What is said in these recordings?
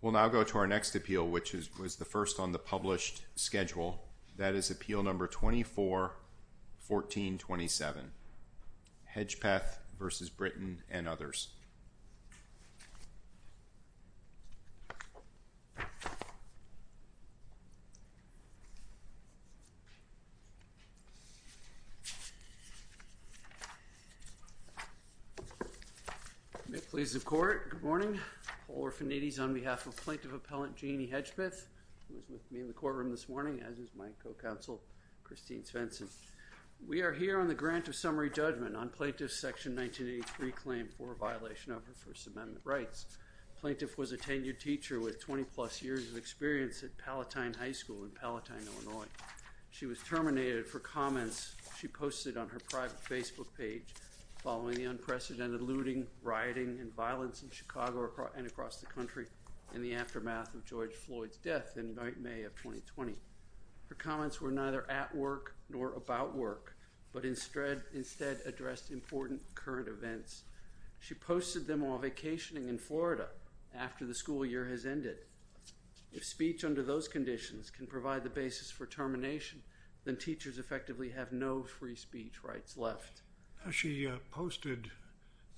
We'll now go to our next appeal, which was the first on the published schedule. That is Appeal No. 24-1427, Hedgepeth v. Britton and others. May it please the Court, good morning. Paul Orfanides on behalf of Plaintiff Appellant Jeanne Hedgepeth, who is with me in the courtroom this morning, as is my co-counsel Christine Svensson. We are here on the grant of summary judgment on Plaintiff's Section 1983 claim for a violation of her First Amendment rights. Plaintiff was a tenured teacher with 20-plus years of experience at Palatine High School in Palatine, Illinois. She was terminated for comments she posted on her private Facebook page following the unprecedented looting, rioting, and violence in Chicago and across the country in the aftermath of George Floyd's death in late May of 2020. Her comments were neither at work nor about work, but instead addressed important current events. She posted them while vacationing in Florida after the school year has ended. If speech under those conditions can provide the basis for termination, then teachers effectively have no free speech rights left. She posted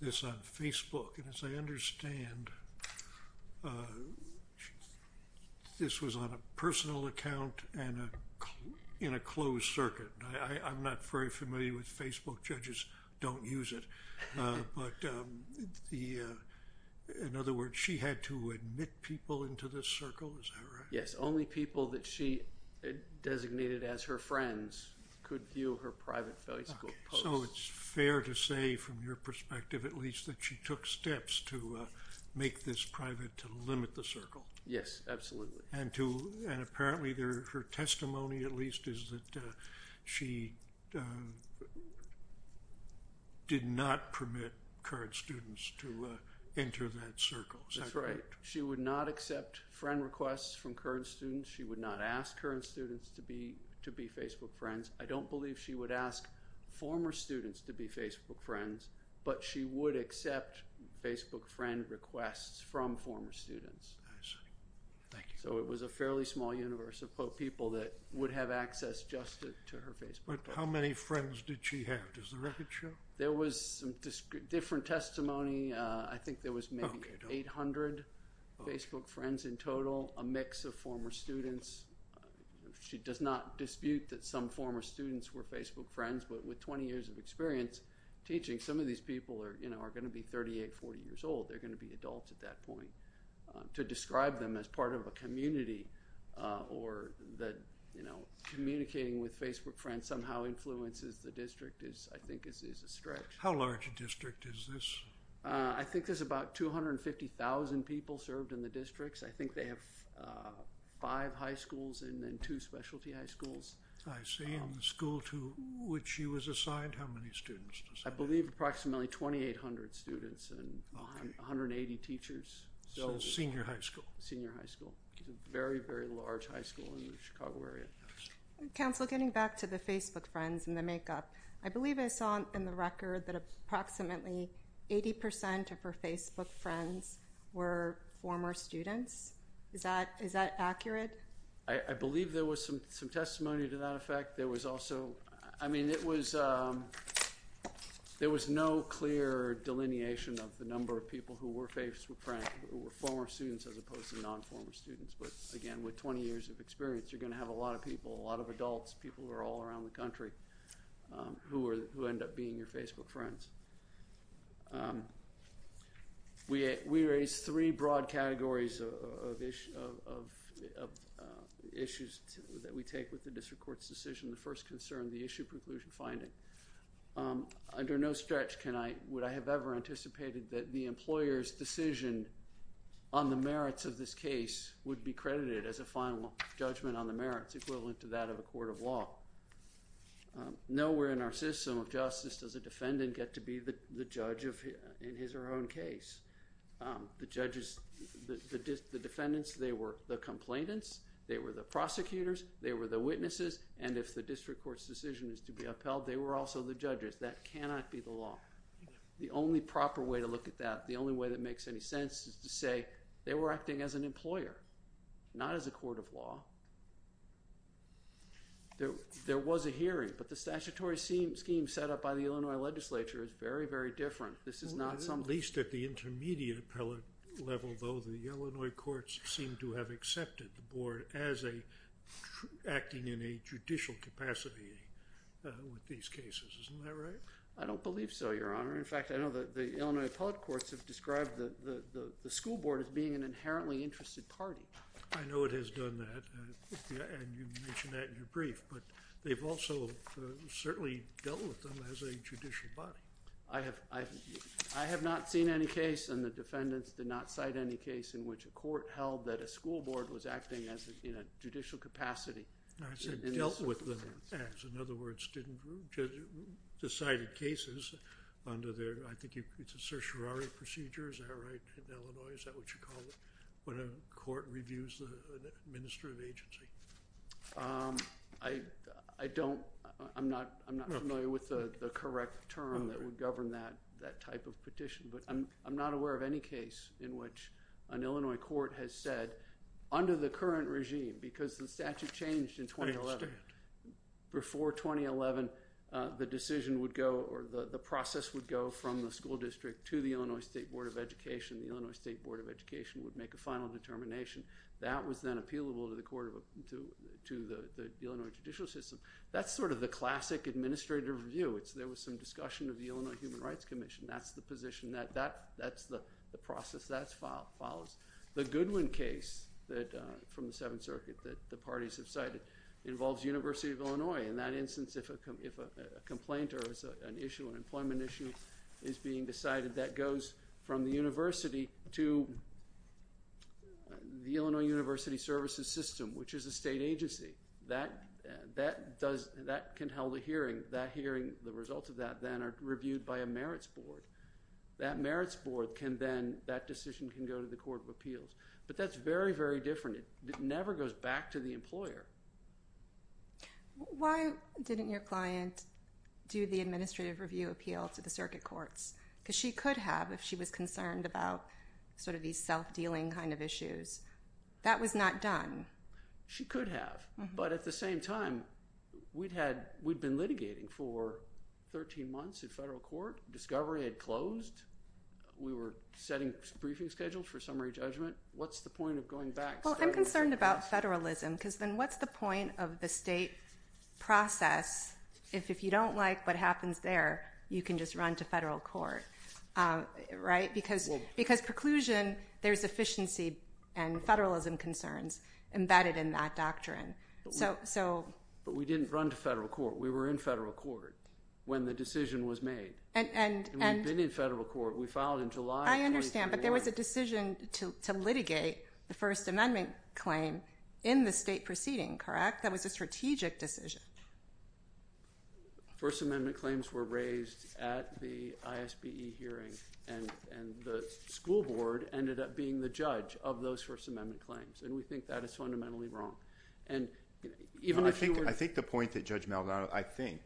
this on Facebook, and as I understand, this was on a personal account and in a closed circuit. I'm not very familiar with Facebook, judges don't use it, but in other words, she had to admit people into this circle, is that right? Yes. Only people that she designated as her friends could view her private Facebook post. So it's fair to say, from your perspective at least, that she took steps to make this private to limit the circle. Yes, absolutely. And apparently her testimony at least is that she did not permit current students to enter that circle. Is that correct? She would not accept friend requests from current students. She would not ask current students to be Facebook friends. I don't believe she would ask former students to be Facebook friends, but she would accept Facebook friend requests from former students. I see. Thank you. So it was a fairly small universe of people that would have access just to her Facebook post. But how many friends did she have? Does the record show? There was some different testimony, I think there was maybe 800 Facebook friends in total, a mix of former students. She does not dispute that some former students were Facebook friends, but with 20 years of experience teaching, some of these people are going to be 38, 40 years old, they're going to be adults at that point. To describe them as part of a community or that, you know, communicating with Facebook friends somehow influences the district is, I think, is a stretch. How large a district is this? I think there's about 250,000 people served in the districts. I think they have five high schools and then two specialty high schools. I see. And the school to which she was assigned, how many students? I believe approximately 2,800 students and 180 teachers. So senior high school. Senior high school. It's a very, very large high school in the Chicago area. Counselor getting back to the Facebook friends and the makeup, I believe I saw in the record that approximately 80% of her Facebook friends were former students. Is that is that accurate? I believe there was some some testimony to that effect. There was also I mean, it was there was no clear delineation of the number of people who were Facebook friends who were former students as opposed to non-former students. But again, with 20 years of experience, you're going to have a lot of people, a lot of adults, people who are all around the country who are who end up being your Facebook friends. We we raised three broad categories of issues that we take with the district court's decision. The first concern, the issue preclusion finding. Under no stretch can I would I have ever anticipated that the employer's decision on the merits of this case would be credited as a final judgment on the merits equivalent to that of a court of law. Nowhere in our system of justice does a defendant get to be the judge of in his or her own case. The judges, the defendants, they were the complainants. They were the prosecutors. They were the witnesses. And if the district court's decision is to be upheld, they were also the judges. That cannot be the law. The only proper way to look at that, the only way that makes any sense is to say they were acting as an employer, not as a court of law. There was a hearing, but the statutory scheme set up by the Illinois legislature is very, very different. This is not some. At least at the intermediate appellate level, though, the Illinois courts seem to have accepted the board as a acting in a judicial capacity with these cases, isn't that right? I don't believe so, Your Honor. In fact, I know that the Illinois appellate courts have described the school board as being an inherently interested party. I know it has done that, and you mentioned that in your brief, but they've also certainly dealt with them as a judicial body. I have not seen any case, and the defendants did not cite any case, in which a court held that a school board was acting in a judicial capacity. I said dealt with them as, in other words, decided cases under their, I think it's a certiorari procedure, is that right, in Illinois, is that what you call it? When a court reviews an administrative agency. I don't, I'm not familiar with the correct term that would govern that type of petition, but I'm not aware of any case in which an Illinois court has said, under the current regime, because the statute changed in 2011, before 2011, the decision would go, or the process would go from the school district to the Illinois State Board of Education, the Illinois State Board of Education would make a final determination. That was then appealable to the court of, to the Illinois judicial system. That's sort of the classic administrative review. There was some discussion of the Illinois Human Rights Commission. That's the position that, that's the process that follows. The Goodwin case that, from the Seventh Circuit, that the parties have cited, involves University of Illinois. In that instance, if a complaint or an issue, an employment issue, is being decided, that goes from the university to the Illinois University Services System, which is a state agency. That, that does, that can hold a hearing. That hearing, the results of that then are reviewed by a merits board. That merits board can then, that decision can go to the court of appeals. But that's very, very different. It never goes back to the employer. Why didn't your client do the administrative review appeal to the circuit courts? Because she could have if she was concerned about sort of these self-dealing kind of issues. That was not done. She could have. But at the same time, we'd had, we'd been litigating for 13 months at federal court. Discovery had closed. We were setting briefing schedules for summary judgment. What's the point of going back? Well, I'm concerned about federalism because then what's the point of the state process if, if you don't like what happens there, you can just run to federal court, right? Because, because preclusion, there's efficiency and federalism concerns embedded in that doctrine. So, so. But we didn't run to federal court. We were in federal court when the decision was made. And, and, and. And we've been in federal court. We filed in July of 2014. I understand. But there was a decision to, to litigate the First Amendment claim in the state proceeding, correct? That was a strategic decision. First Amendment claims were raised at the ISBE hearing and, and the school board ended up being the judge of those First Amendment claims. And we think that is fundamentally wrong. And even if you were. I think, I think the point that Judge Maldonado, I think,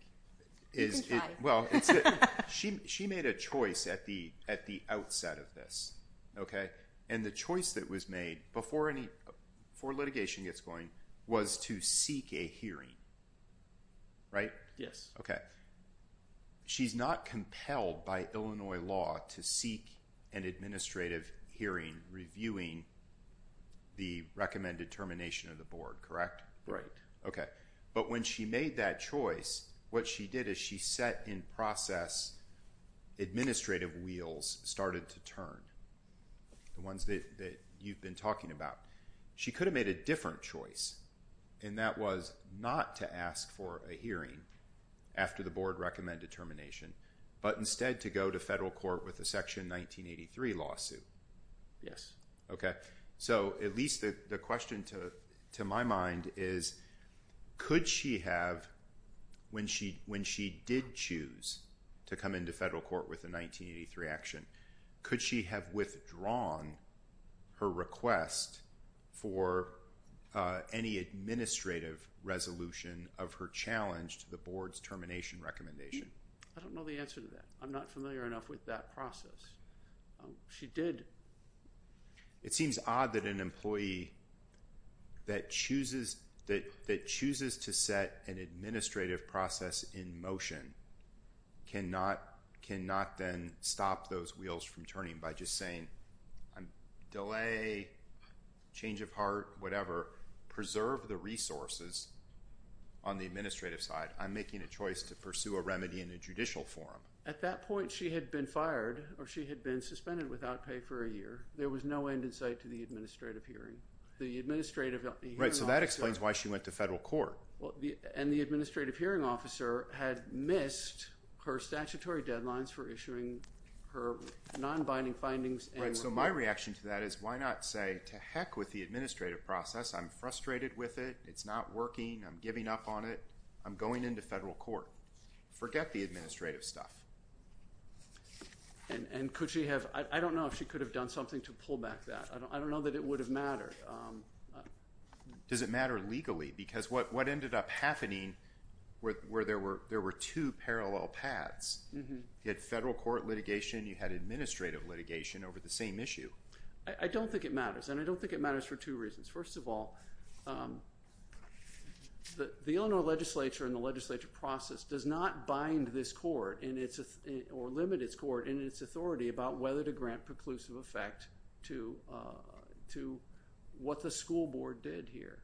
is it, well, it's that she, she made a choice at the, at the outset of this, okay? And the choice that was made before any, before litigation gets going, was to seek a hearing, right? Yes. Okay. She's not compelled by Illinois law to seek an administrative hearing reviewing the recommended termination of the board, correct? Right. Okay. But when she made that choice, what she did is she set in process, administrative wheels started to turn, the ones that, that you've been talking about. She could have made a different choice, and that was not to ask for a hearing after the board recommended termination, but instead to go to federal court with a Section 1983 lawsuit. Yes. Okay. So at least the, the question to, to my mind is, could she have, when she, when she did choose to come into federal court with a 1983 action, could she have withdrawn her request for any administrative resolution of her challenge to the board's termination recommendation? I don't know the answer to that. I'm not familiar enough with that process. She did. It seems odd that an employee that chooses, that, that chooses to set an administrative process in motion cannot, cannot then stop those wheels from turning by just saying, I'm delay, change of heart, whatever, preserve the resources on the administrative side. I'm making a choice to pursue a remedy in a judicial forum. At that point, she had been fired, or she had been suspended without pay for a year. There was no end in sight to the administrative hearing. The administrative hearing officer. Right. So that explains why she went to federal court. Well, the, and the administrative hearing officer had missed her statutory deadlines for issuing her non-binding findings and report. Right. So my reaction to that is, why not say, to heck with the administrative process. I'm frustrated with it. It's not working. I'm giving up on it. I'm going into federal court. Forget the administrative stuff. And could she have, I don't know if she could have done something to pull back that. I don't, I don't know that it would have mattered. Does it matter legally? Because what ended up happening, where there were two parallel paths, you had federal court litigation, you had administrative litigation over the same issue. I don't think it matters. And I don't think it matters for two reasons. First of all, the Illinois legislature and the legislature process does not bind this court in its, or limit its court in its authority about whether to grant preclusive effect to what the school board did here.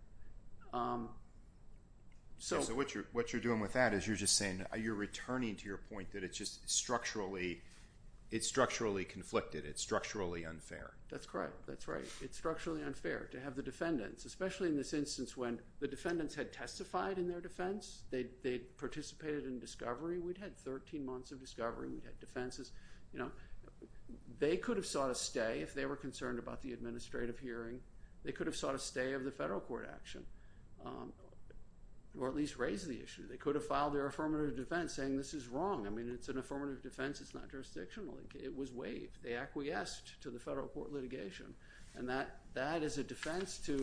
So what you're, what you're doing with that is you're just saying, you're returning to your point that it's just structurally, it's structurally conflicted. It's structurally unfair. That's correct. That's right. It's structurally unfair to have the defendants, especially in this instance when the defendants had testified in their defense. They participated in discovery. We'd had 13 months of discovery. We'd had defenses. You know, they could have sought a stay if they were concerned about the administrative hearing. They could have sought a stay of the federal court action, or at least raised the issue. They could have filed their affirmative defense saying this is wrong. I mean, it's an affirmative defense, it's not jurisdictional. It was waived. They acquiesced to the federal court litigation. And that, that is a defense to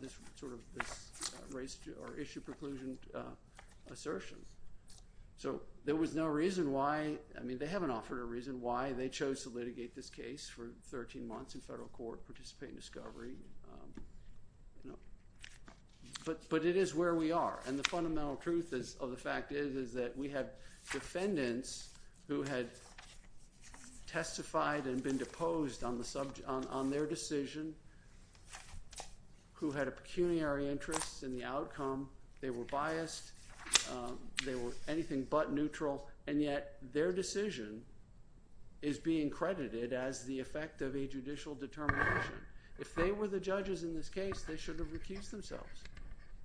this sort of, this raised, or issue preclusion assertion. So there was no reason why, I mean, they haven't offered a reason why they chose to litigate this case for 13 months in federal court, participate in discovery, but it is where we are. And the fundamental truth of the fact is, is that we had defendants who had testified and been deposed on their decision, who had a pecuniary interest in the outcome. They were biased. They were anything but neutral. And yet, their decision is being credited as the effect of a judicial determination. If they were the judges in this case, they should have recused themselves.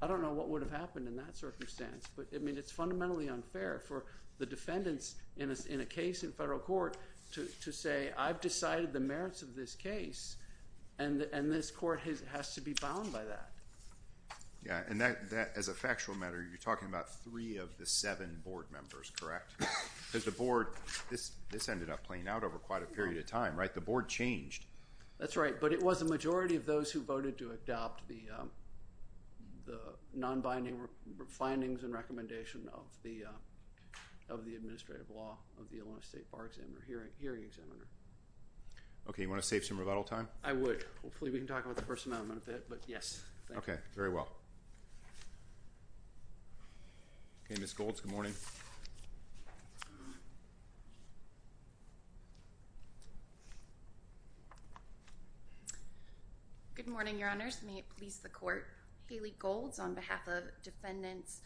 I don't know what would have happened in that circumstance. But I mean, it's fundamentally unfair for the defendants in a case in federal court to say I've decided the merits of this case, and this court has to be bound by that. Yeah. And that, as a factual matter, you're talking about three of the seven board members, correct? Because the board, this ended up playing out over quite a period of time, right? The board changed. That's right. But it was the majority of those who voted to adopt the non-binding findings and recommendation of the administrative law of the Illinois State Bar Examiner Hearing Examiner. Okay. You want to save some rebuttal time? I would. Okay. Hopefully, we can talk about the first amendment a bit. But yes. Okay. Very well. Okay. Ms. Golds, good morning. Good morning, Your Honors. May it please the court. Haley Golds on behalf of Defendants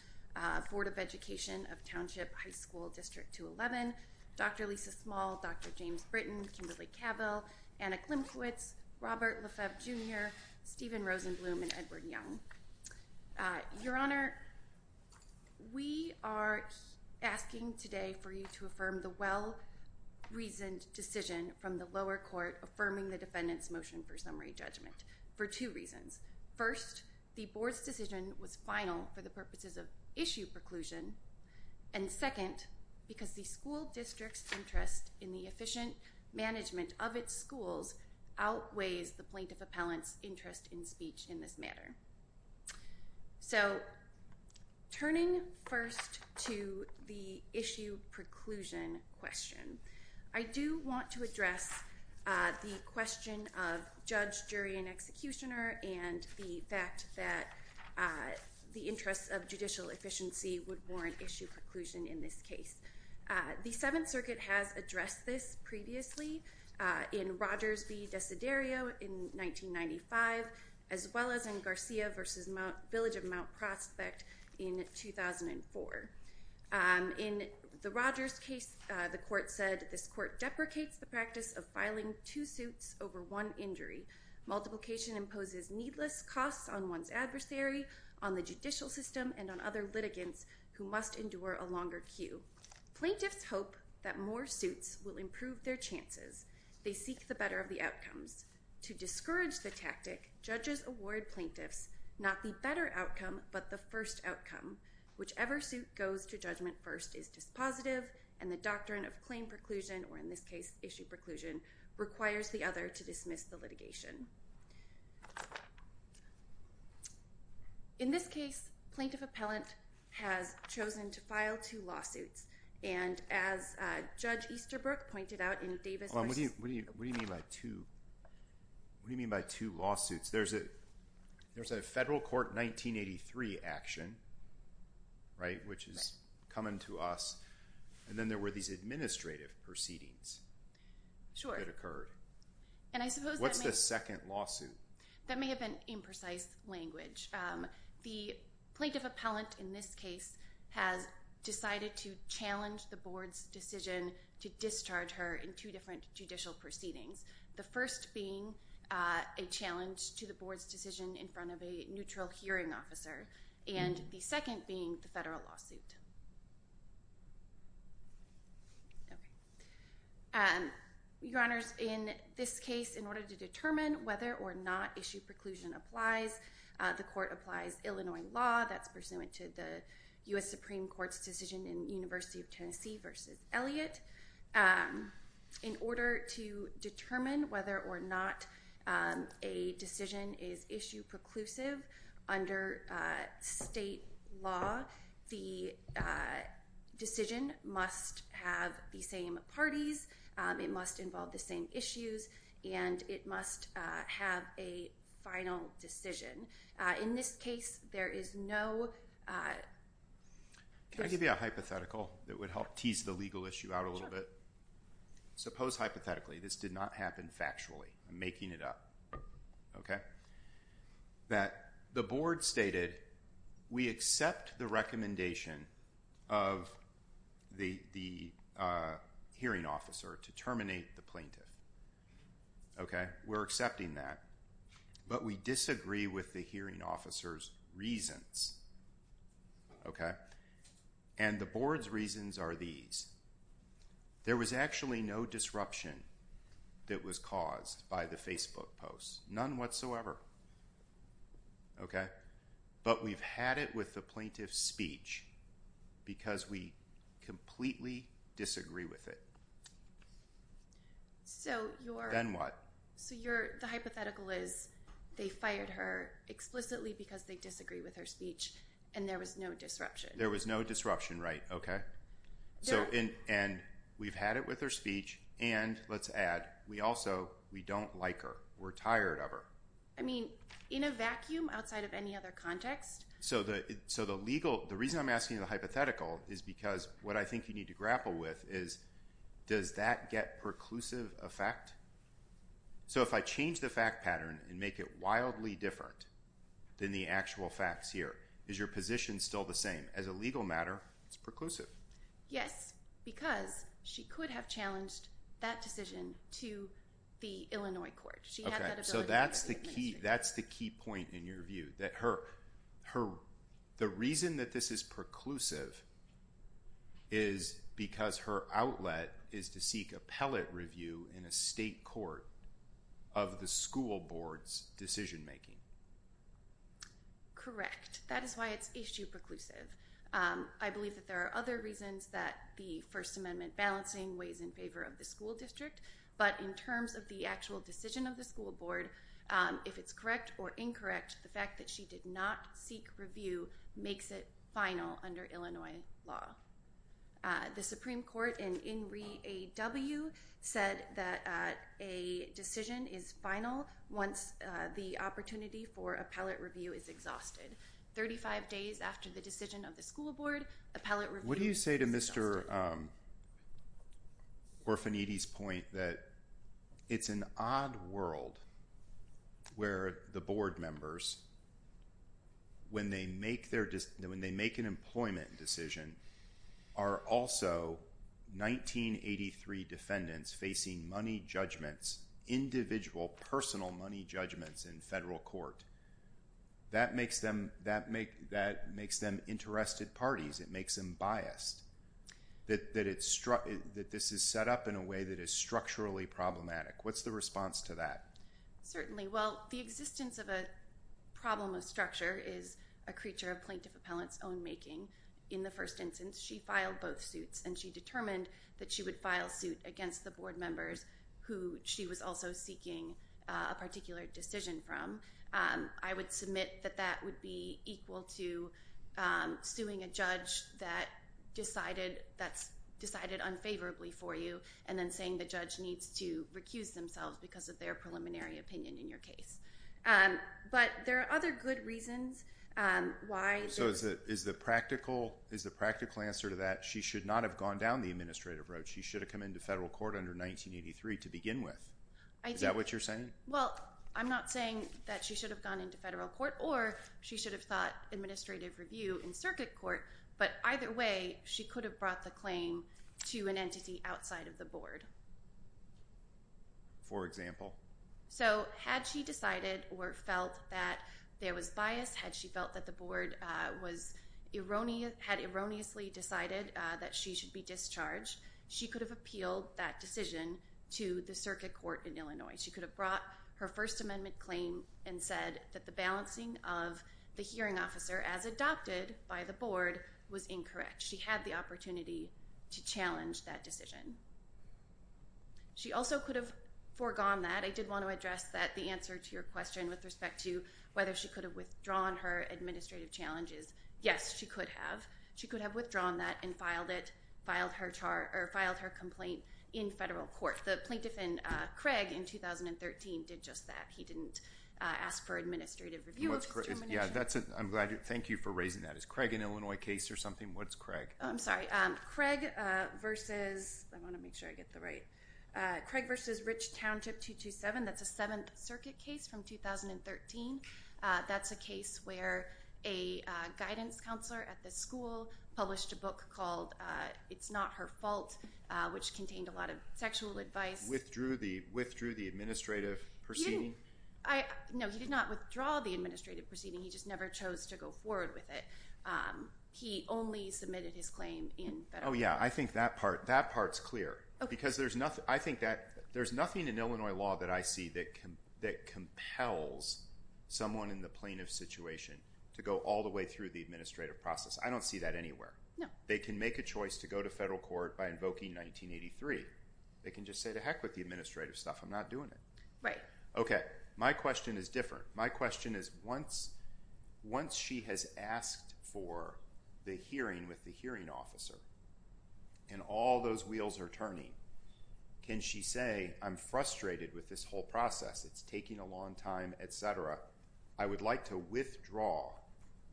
Board of Education of Township High School District 211, Dr. Lisa Small, Dr. James Britton, Kimberly Cavill, Anna Klimkiewicz, Robert Lefebvre Jr., Stephen Rosenblum, and Edward Young. Your Honor, we are asking today for you to affirm the well-reasoned decision from the lower court affirming the defendant's motion for summary judgment for two reasons. First, the board's decision was final for the purposes of issue preclusion. And second, because the school district's interest in the efficient management of its schools outweighs the plaintiff appellant's interest in speech in this matter. So, turning first to the issue preclusion question, I do want to address the question of judge, jury, and executioner and the fact that the interest of judicial efficiency would be the most important issue preclusion in this case. The Seventh Circuit has addressed this previously in Rogers v. Desiderio in 1995, as well as in Garcia v. Village of Mount Prospect in 2004. In the Rogers case, the court said, this court deprecates the practice of filing two suits over one injury. Multiplication imposes needless costs on one's adversary, on the judicial system, and on other litigants who must endure a longer queue. Plaintiffs hope that more suits will improve their chances. They seek the better of the outcomes. To discourage the tactic, judges award plaintiffs not the better outcome, but the first outcome. Whichever suit goes to judgment first is dispositive, and the doctrine of claim preclusion, or in this case, issue preclusion, requires the other to dismiss the litigation. In this case, plaintiff appellant has chosen to file two lawsuits, and as Judge Easterbrook pointed out in Davis v. What do you mean by two lawsuits? There's a federal court 1983 action, right, which is coming to us, and then there were these administrative proceedings that occurred. What's the second lawsuit? That may have been imprecise language. The plaintiff appellant in this case has decided to challenge the board's decision to discharge her in two different judicial proceedings. The first being a challenge to the board's decision in front of a neutral hearing officer, and the second being the federal lawsuit. Your Honors, in this case, in order to determine whether or not issue preclusion applies, the court applies Illinois law that's pursuant to the U.S. Supreme Court's decision in University of Tennessee v. Elliott. In order to determine whether or not a decision is issue preclusive under state law, the court decision must have the same parties, it must involve the same issues, and it must have a final decision. In this case, there is no... Can I give you a hypothetical that would help tease the legal issue out a little bit? Sure. Suppose, hypothetically, this did not happen factually. I'm making it up, okay? That the board stated, we accept the recommendation of the hearing officer to terminate the plaintiff. Okay? We're accepting that, but we disagree with the hearing officer's reasons. Okay? And the board's reasons are these. There was actually no disruption that was caused by the Facebook posts. None whatsoever. Okay? But we've had it with the plaintiff's speech because we completely disagree with it. So you're... Then what? So you're... The hypothetical is they fired her explicitly because they disagree with her speech and there was no disruption. There was no disruption, right? Okay. And we've had it with her speech and, let's add, we also, we don't like her. We're tired of her. I mean, in a vacuum outside of any other context? So the legal... The reason I'm asking the hypothetical is because what I think you need to grapple with is does that get preclusive effect? So if I change the fact pattern and make it wildly different than the actual facts here, is your position still the same? As a legal matter, it's preclusive. Yes, because she could have challenged that decision to the Illinois court. She had that ability. Okay. So that's the key point in your view, that her... The reason that this is preclusive is because her outlet is to seek appellate review in a state court of the school board's decision making. Correct. Correct. That is why it's issue preclusive. I believe that there are other reasons that the First Amendment balancing weighs in favor of the school district, but in terms of the actual decision of the school board, if it's correct or incorrect, the fact that she did not seek review makes it final under Illinois law. The Supreme Court in REAW said that a decision is final once the opportunity for appellate review is exhausted. 35 days after the decision of the school board, appellate review is exhausted. What do you say to Mr. Orfaniti's point that it's an odd world where the board members, when they make an employment decision, are also 1983 defendants facing money judgments, individual personal money judgments in federal court. That makes them interested parties. It makes them biased, that this is set up in a way that is structurally problematic. What's the response to that? Certainly. Well, the existence of a problem of structure is a creature of plaintiff appellant's own making. In the first instance, she filed both suits, and she determined that she would file suit against the board members who she was also seeking a particular decision from. I would submit that that would be equal to suing a judge that's decided unfavorably for you, and then saying the judge needs to recuse themselves because of their preliminary opinion in your case. But there are other good reasons why. So is the practical answer to that, she should not have gone down the administrative road? She should have come into federal court under 1983 to begin with? I do. Is that what you're saying? Well, I'm not saying that she should have gone into federal court, or she should have sought administrative review in circuit court. But either way, she could have brought the claim to an entity outside of the board. For example? So had she decided or felt that there was bias, had she felt that the board had erroneously decided that she should be discharged, she could have appealed that decision to the circuit court in Illinois. She could have brought her First Amendment claim and said that the balancing of the hearing officer as adopted by the board was incorrect. She had the opportunity to challenge that decision. She also could have foregone that. I did want to address that, the answer to your question with respect to whether she could have withdrawn her administrative challenges. Yes, she could have. She could have withdrawn that and filed her complaint in federal court. The plaintiff in Craig in 2013 did just that. He didn't ask for administrative review of discrimination. I'm glad. Thank you for raising that. Is Craig an Illinois case or something? What is Craig? I'm sorry. Craig versus Rich Township 227. That's a Seventh Circuit case from 2013. That's a case where a guidance counselor at the school published a book called It's Not Her Fault, which contained a lot of sexual advice. Withdrew the administrative proceeding? No, he did not withdraw the administrative proceeding. He just never chose to go forward with it. He only submitted his claim in federal court. Oh, yeah. I think that part is clear. I think that there's nothing in Illinois law that I see that compels someone in the plaintiff's situation to go all the way through the administrative process. I don't see that anywhere. No. They can make a choice to go to federal court by invoking 1983. They can just say, to heck with the administrative stuff. I'm not doing it. Right. Okay. My question is different. My question is, once she has asked for the hearing with the hearing officer and all those wheels are turning, can she say, I'm frustrated with this whole process. It's taking a long time, et cetera. I would like to withdraw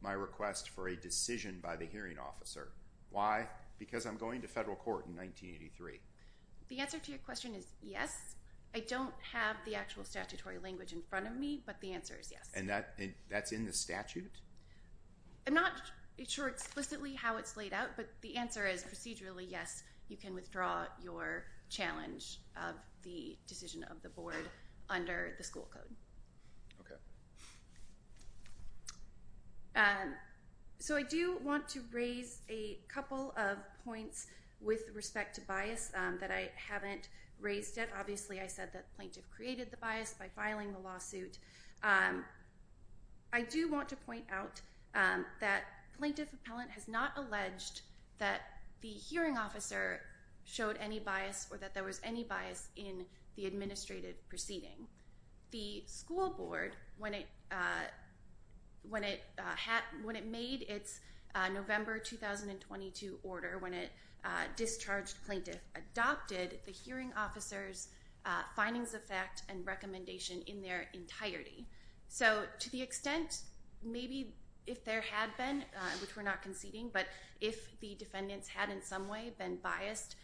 my request for a decision by the hearing officer. Why? Because I'm going to federal court in 1983. The answer to your question is yes. I don't have the actual statutory language in front of me, but the answer is yes. And that's in the statute? I'm not sure explicitly how it's laid out, but the answer is procedurally, yes, you can withdraw your challenge of the decision of the board under the school code. Okay. So, I do want to raise a couple of points with respect to bias that I haven't raised yet. Obviously, I said that the plaintiff created the bias by filing the lawsuit. I do want to point out that plaintiff appellant has not alleged that the hearing officer showed any bias or that there was any bias in the administrative proceeding. The school board, when it made its November 2022 order, when it discharged plaintiff, adopted the hearing officer's findings of fact and recommendation in their entirety. So, to the extent maybe if there had been, which we're not conceding, but if the defendants had in some way been biased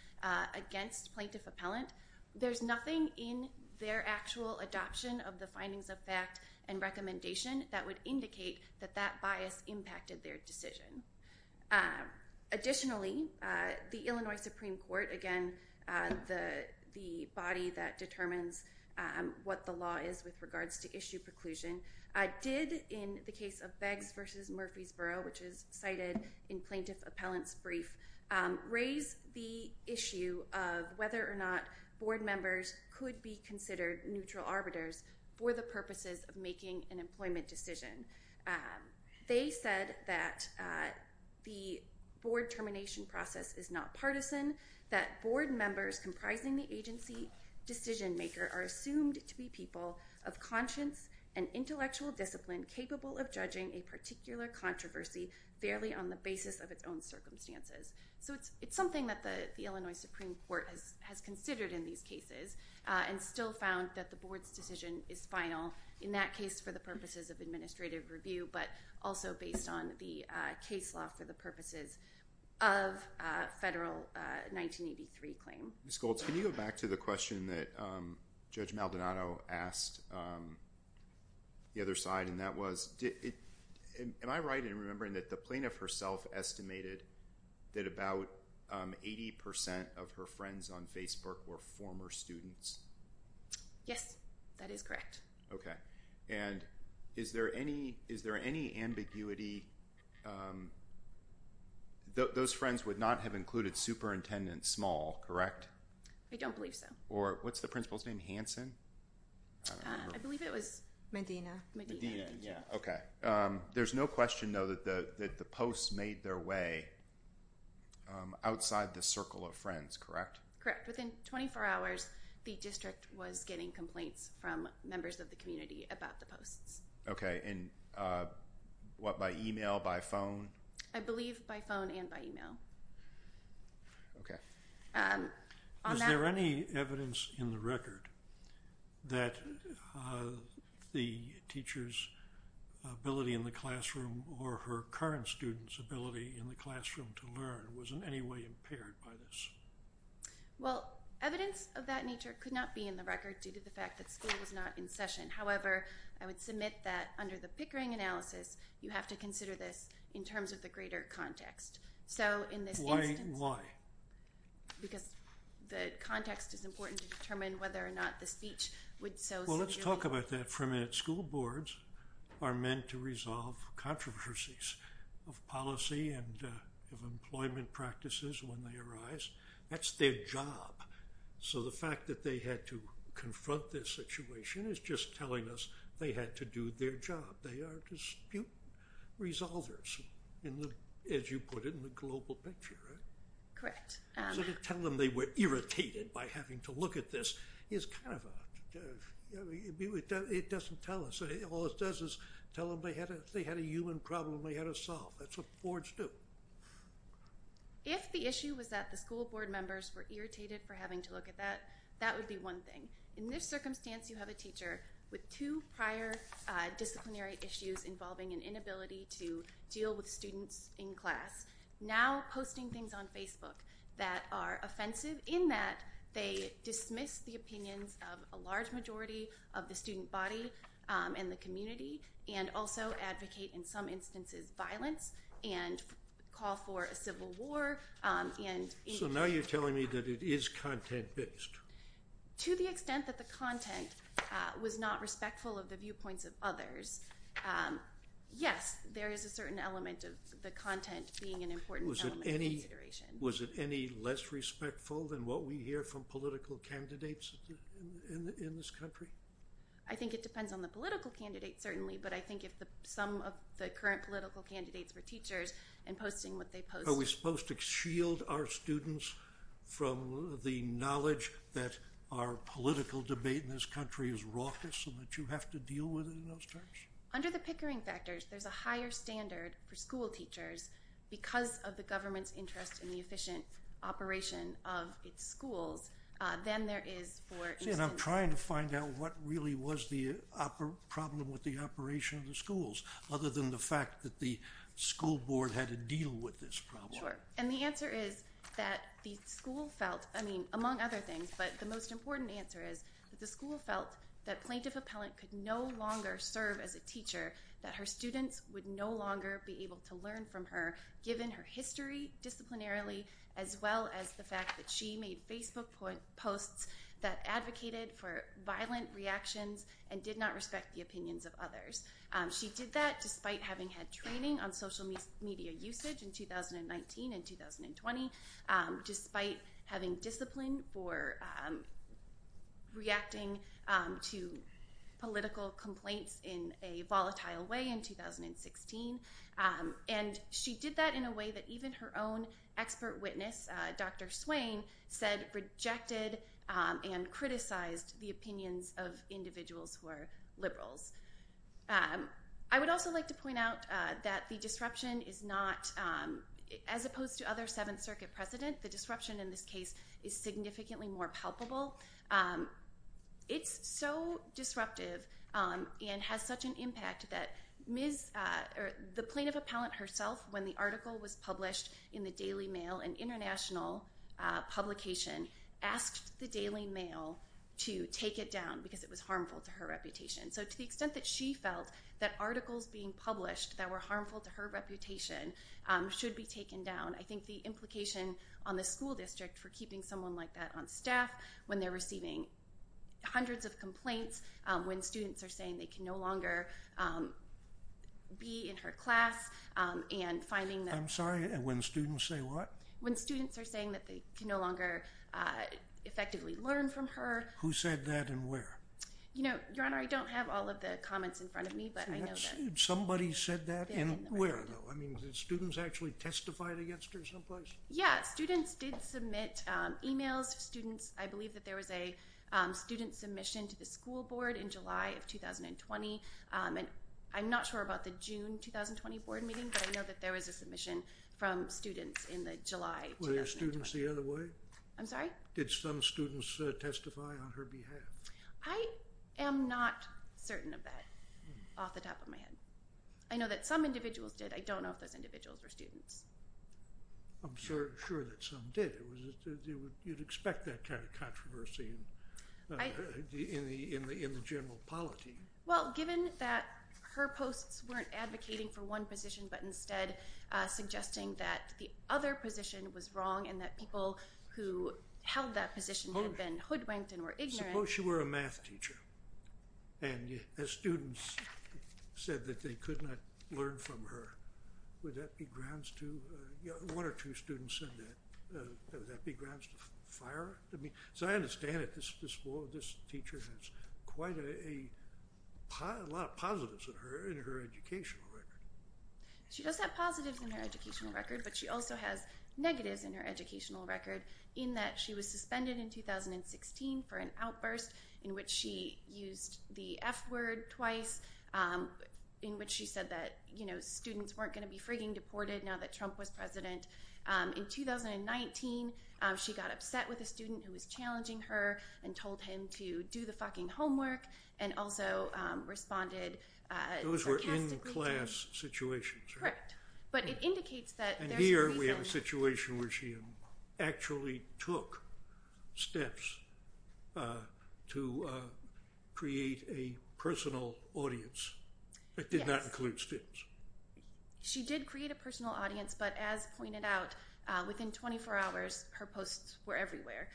against plaintiff appellant, there's nothing in their actual adoption of the findings of fact and recommendation that would indicate that that bias impacted their decision. Additionally, the Illinois Supreme Court, again, the body that determines what the law is with regards to issue preclusion, did in the case of Beggs v. Murphysboro, which is cited in plaintiff appellant's brief, raise the issue of whether or not board members could be considered neutral arbiters for the purposes of making an employment decision. They said that the board termination process is not partisan, that board members comprising the agency decision maker are assumed to be people of conscience and intellectual discipline capable of judging a particular controversy fairly on the basis of its own circumstances. So, it's something that the Illinois Supreme Court has considered in these cases and still found that the board's decision is final in that case for the purposes of administrative review, but also based on the case law for the purposes of federal 1983 claim. Ms. Goltz, can you go back to the question that Judge Maldonado asked the other side, and that was, am I right in remembering that the plaintiff herself estimated that about 80% of her friends on Facebook were former students? Yes, that is correct. Okay, and is there any ambiguity, those friends would not have included Superintendent Small, correct? I don't believe so. Or, what's the principal's name, Hanson? I believe it was Medina. Medina, yeah, okay. There's no question, though, that the posts made their way outside the circle of friends, correct? Correct. Within 24 hours, the district was getting complaints from members of the community about the posts. Okay, and what, by email, by phone? I believe by phone and by email. Okay. Is there any evidence in the record that the teacher's ability in the classroom or her current student's ability in the classroom to learn was in any way impaired by this? Well, evidence of that nature could not be in the record due to the fact that school was not in session. However, I would submit that under the Pickering analysis, you have to consider this in terms of the greater context. So, in this instance... Why? Because the context is important to determine whether or not the speech would so... Well, let's talk about that for a minute. School boards are meant to resolve controversies of policy and of employment practices when they arise. That's their job. So, the fact that they had to confront this situation is just telling us they had to do their job. But they are dispute resolvers, as you put it in the global picture, right? Correct. So, to tell them they were irritated by having to look at this is kind of a... It doesn't tell us. All it does is tell them they had a human problem they had to solve. That's what boards do. If the issue was that the school board members were irritated for having to look at that, that would be one thing. In this circumstance, you have a teacher with two prior disciplinary issues involving an inability to deal with students in class now posting things on Facebook that are offensive in that they dismiss the opinions of a large majority of the student body and the community and also advocate, in some instances, violence and call for a civil war and... So, now you're telling me that it is content-based. To the extent that the content was not respectful of the viewpoints of others, yes, there is a certain element of the content being an important element of consideration. Was it any less respectful than what we hear from political candidates in this country? I think it depends on the political candidate, certainly, but I think if some of the current political candidates were teachers and posting what they post... Are we supposed to shield our students from the knowledge that our political debate in this country is raucous and that you have to deal with it in those terms? Under the Pickering factors, there's a higher standard for school teachers because of the government's interest in the efficient operation of its schools than there is for instance... See, and I'm trying to find out what really was the problem with the operation of the school. Sure. And the answer is that the school felt... I mean, among other things, but the most important answer is that the school felt that Plaintiff Appellant could no longer serve as a teacher, that her students would no longer be able to learn from her, given her history, disciplinarily, as well as the fact that she made Facebook posts that advocated for violent reactions and did not respect the opinions of others. She did that despite having had training on social media usage in 2019 and 2020, despite having discipline for reacting to political complaints in a volatile way in 2016, and she did that in a way that even her own expert witness, Dr. Swain, said rejected and criticized the opinions of individuals who are liberals. I would also like to point out that the disruption is not... As opposed to other Seventh Circuit precedent, the disruption in this case is significantly more palpable. It's so disruptive and has such an impact that the Plaintiff Appellant herself, when the article was published in the Daily Mail, an international publication, asked the Daily Mail to take it down because it was harmful to her reputation. So to the extent that she felt that articles being published that were harmful to her reputation should be taken down, I think the implication on the school district for keeping someone like that on staff when they're receiving hundreds of complaints, when students are saying they can no longer be in her class, and finding that... I'm sorry, when students say what? When students are saying that they can no longer effectively learn from her. Who said that and where? Your Honor, I don't have all of the comments in front of me, but I know that... Somebody said that and where, though? I mean, did students actually testify against her someplace? Yeah, students did submit emails. Students... I believe that there was a student submission to the school board in July of 2020. I'm not sure about the June 2020 board meeting, but I know that there was a submission from students in the July of 2020. Were there students the other way? I'm sorry? Did some students testify on her behalf? I am not certain of that off the top of my head. I know that some individuals did. I don't know if those individuals were students. I'm sure that some did. You'd expect that kind of controversy in the general polity. Well, given that her posts weren't advocating for one position, but instead suggesting that the other position was wrong and that people who held that position had been hoodwinked and were ignorant... Suppose she were a math teacher and the students said that they could not learn from her. Would that be grounds to... One or two students said that. Would that be grounds to fire? As I understand it, this teacher has quite a lot of positives in her educational record. She does have positives in her educational record, but she also has negatives in her educational record in that she was suspended in 2016 for an outburst in which she used the F word twice in which she said that students weren't going to be frigging deported now that Trump was president. In 2019, she got upset with a student who was challenging her and told him to do the fucking homework and also responded... Those were in-class situations, right? But it indicates that there's a reason... And here we have a situation where she actually took steps to create a personal audience that did not include students. She did create a personal audience, but as pointed out, within 24 hours, her posts were everywhere.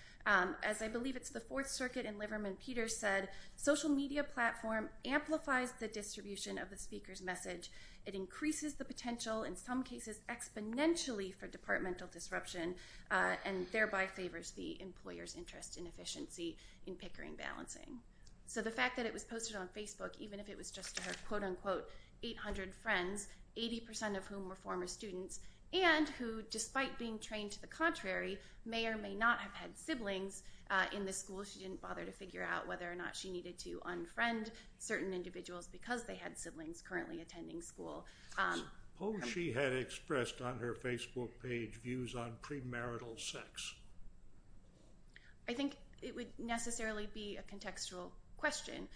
As I believe it's the Fourth Circuit and Liverman Peters said, social media platform amplifies the distribution of the speaker's message. It increases the potential in some cases exponentially for departmental disruption and thereby favors the employer's interest in efficiency in Pickering balancing. So the fact that it was posted on Facebook, even if it was just to her, quote unquote, 800 friends, 80% of whom were former students and who, despite being trained to the contrary, may or may not have had siblings in the school, she didn't bother to figure out whether or not she needed to unfriend certain individuals because they had siblings currently attending school. Suppose she had expressed on her Facebook page views on premarital sex? I think it would necessarily be a contextual question.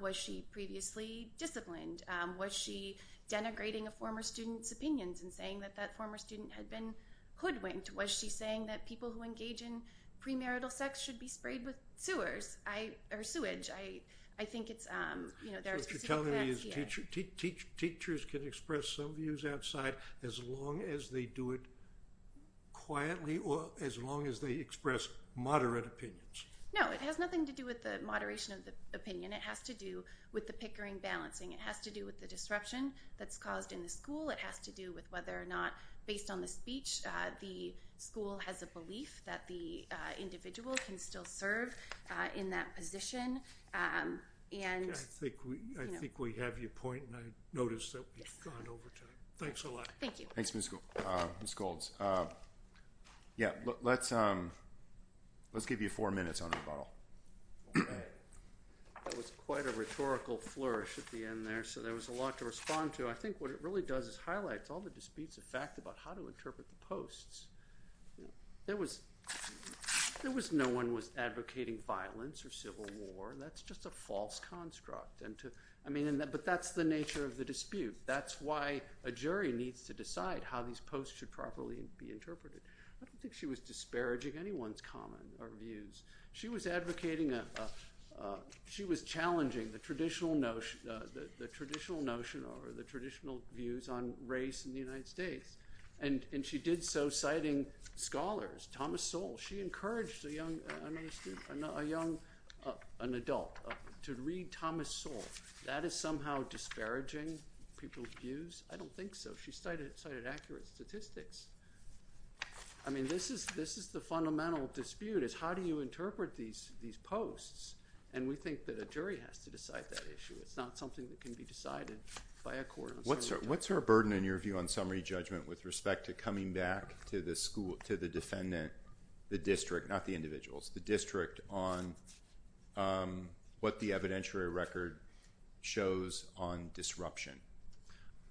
Was she previously disciplined? Was she denigrating a former student's opinions and saying that that former student had been hoodwinked? Was she saying that people who engage in premarital sex should be sprayed with sewers or sewage? I think it's, you know, there are specific facts. So what you're telling me is teachers can express some views outside as long as they do it quietly or as long as they express moderate opinions? No, it has nothing to do with the moderation of the opinion. It has to do with the Pickering balancing. It has to do with the disruption that's caused in the school. It has to do with whether or not, based on the speech, the school has a belief that the individual can still serve in that position. I think we have your point, and I notice that we've gone over time. Thanks a lot. Thank you. Thanks, Ms. Goulds. Yeah, let's give you four minutes on rebuttal. That was quite a rhetorical flourish at the end there. So there was a lot to respond to. I think what it really does is highlights all the disputes of fact about how to interpret the posts. There was no one was advocating violence or civil war. That's just a false construct. I mean, but that's the nature of the dispute. That's why a jury needs to decide how these posts should properly be interpreted. I don't think she was disparaging anyone's comment or views. She was challenging the traditional notion or the traditional views on race in the United States, and she did so citing scholars. Thomas Sowell, she encouraged a young adult to read Thomas Sowell. That is somehow disparaging people's views? I don't think so. She cited accurate statistics. I mean, this is the fundamental dispute is how do you interpret these posts, and we think that a jury has to decide that issue. It's not something that can be decided by a court. What's her burden, in your view, on summary judgment with respect to coming back to the defendant, the district, not the individuals, the district on what the evidentiary record shows on disruption?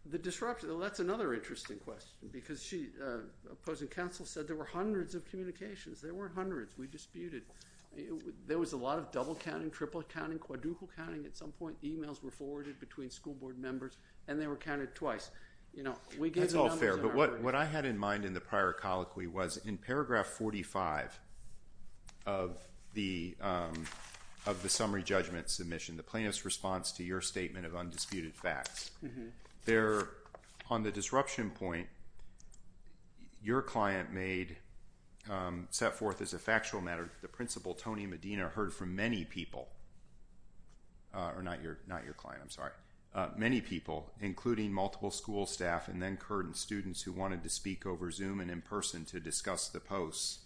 The disruption, well, that's another interesting question because she, opposing counsel, said there were hundreds of communications. There were hundreds. We disputed. There was a lot of double counting, triple counting, quadruple counting at some point. Emails were forwarded between school board members, and they were counted twice. That's all fair, but what I had in mind in the prior colloquy was in paragraph 45 of the summary judgment submission, the plaintiff's response to your statement of undisputed facts. There, on the disruption point, your client made, set forth as a factual matter, the principal, Tony Medina, heard from many people, or not your client, I'm sorry, many people, including multiple school staff and then current students who wanted to speak over Zoom and in person to discuss the posts,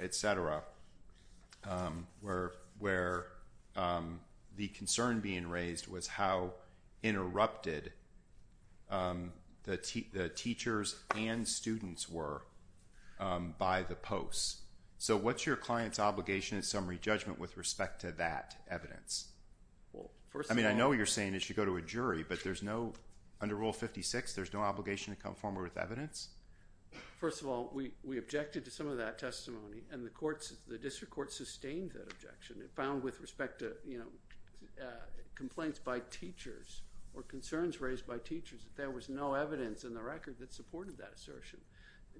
et cetera, where the concern being raised was how interrupted the teachers and students were by the posts. So what's your client's obligation in summary judgment with respect to that evidence? I mean, I know what you're saying is you should go to a jury, but there's no, under Rule 56, there's no obligation to conform with evidence? First of all, we objected to some of that testimony, and the district court sustained that objection. It found, with respect to complaints by teachers or concerns raised by teachers, that there was no evidence in the record that supported that assertion.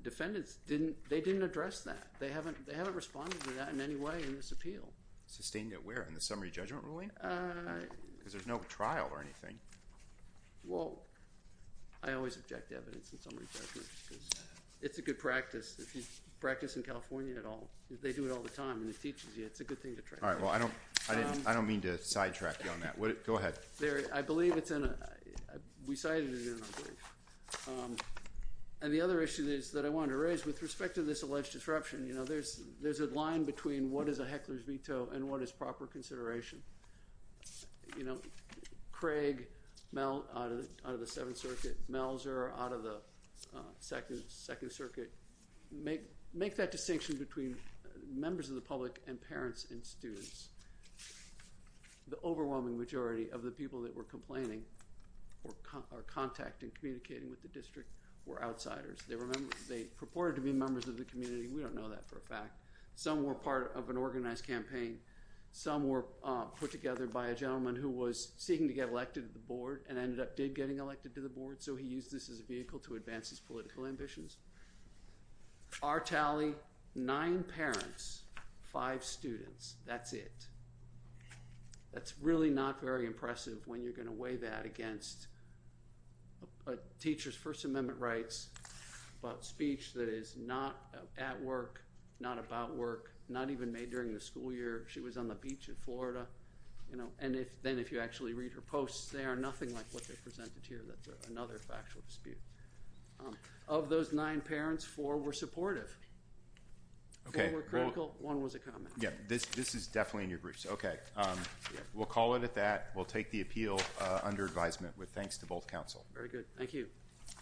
Defendants, they didn't address that. They haven't responded to that in any way in this appeal. Sustained it where, in the summary judgment ruling? Because there's no trial or anything. Well, I always object to evidence in summary judgment because it's a good practice. If you practice in California at all, they do it all the time, and it teaches you. It's a good thing to try. All right, well, I don't mean to sidetrack you on that. Go ahead. I believe it's in a, we cited it in our brief. And the other issue is that I wanted to raise with respect to this alleged disruption. You know, there's a line between what is a heckler's veto and what is proper consideration. You know, Craig, Mel, out of the Seventh Circuit, Melzer, out of the Second Circuit, make that distinction between members of the public and parents and students. The overwhelming majority of the people that were complaining or contacting, communicating with the district were outsiders. They purported to be members of the community. We don't know that for a fact. Some were part of an organized campaign. Some were put together by a gentleman who was seeking to get elected to the board and ended up did getting elected to the board, so he used this as a vehicle to advance his political ambitions. Our tally, nine parents, five students. That's it. That's really not very impressive when you're going to weigh that against a teacher's First Amendment rights, about speech that is not at work, not about work, not even made during the school year. She was on the beach in Florida. You know, and then if you actually read her posts, they are nothing like what they presented here. That's another factual dispute. Of those nine parents, four were supportive. Four were critical. One was a comment. Yeah, this is definitely in your briefs. We'll call it at that. We'll take the appeal under advisement with thanks to both counsel. Very good. Thank you.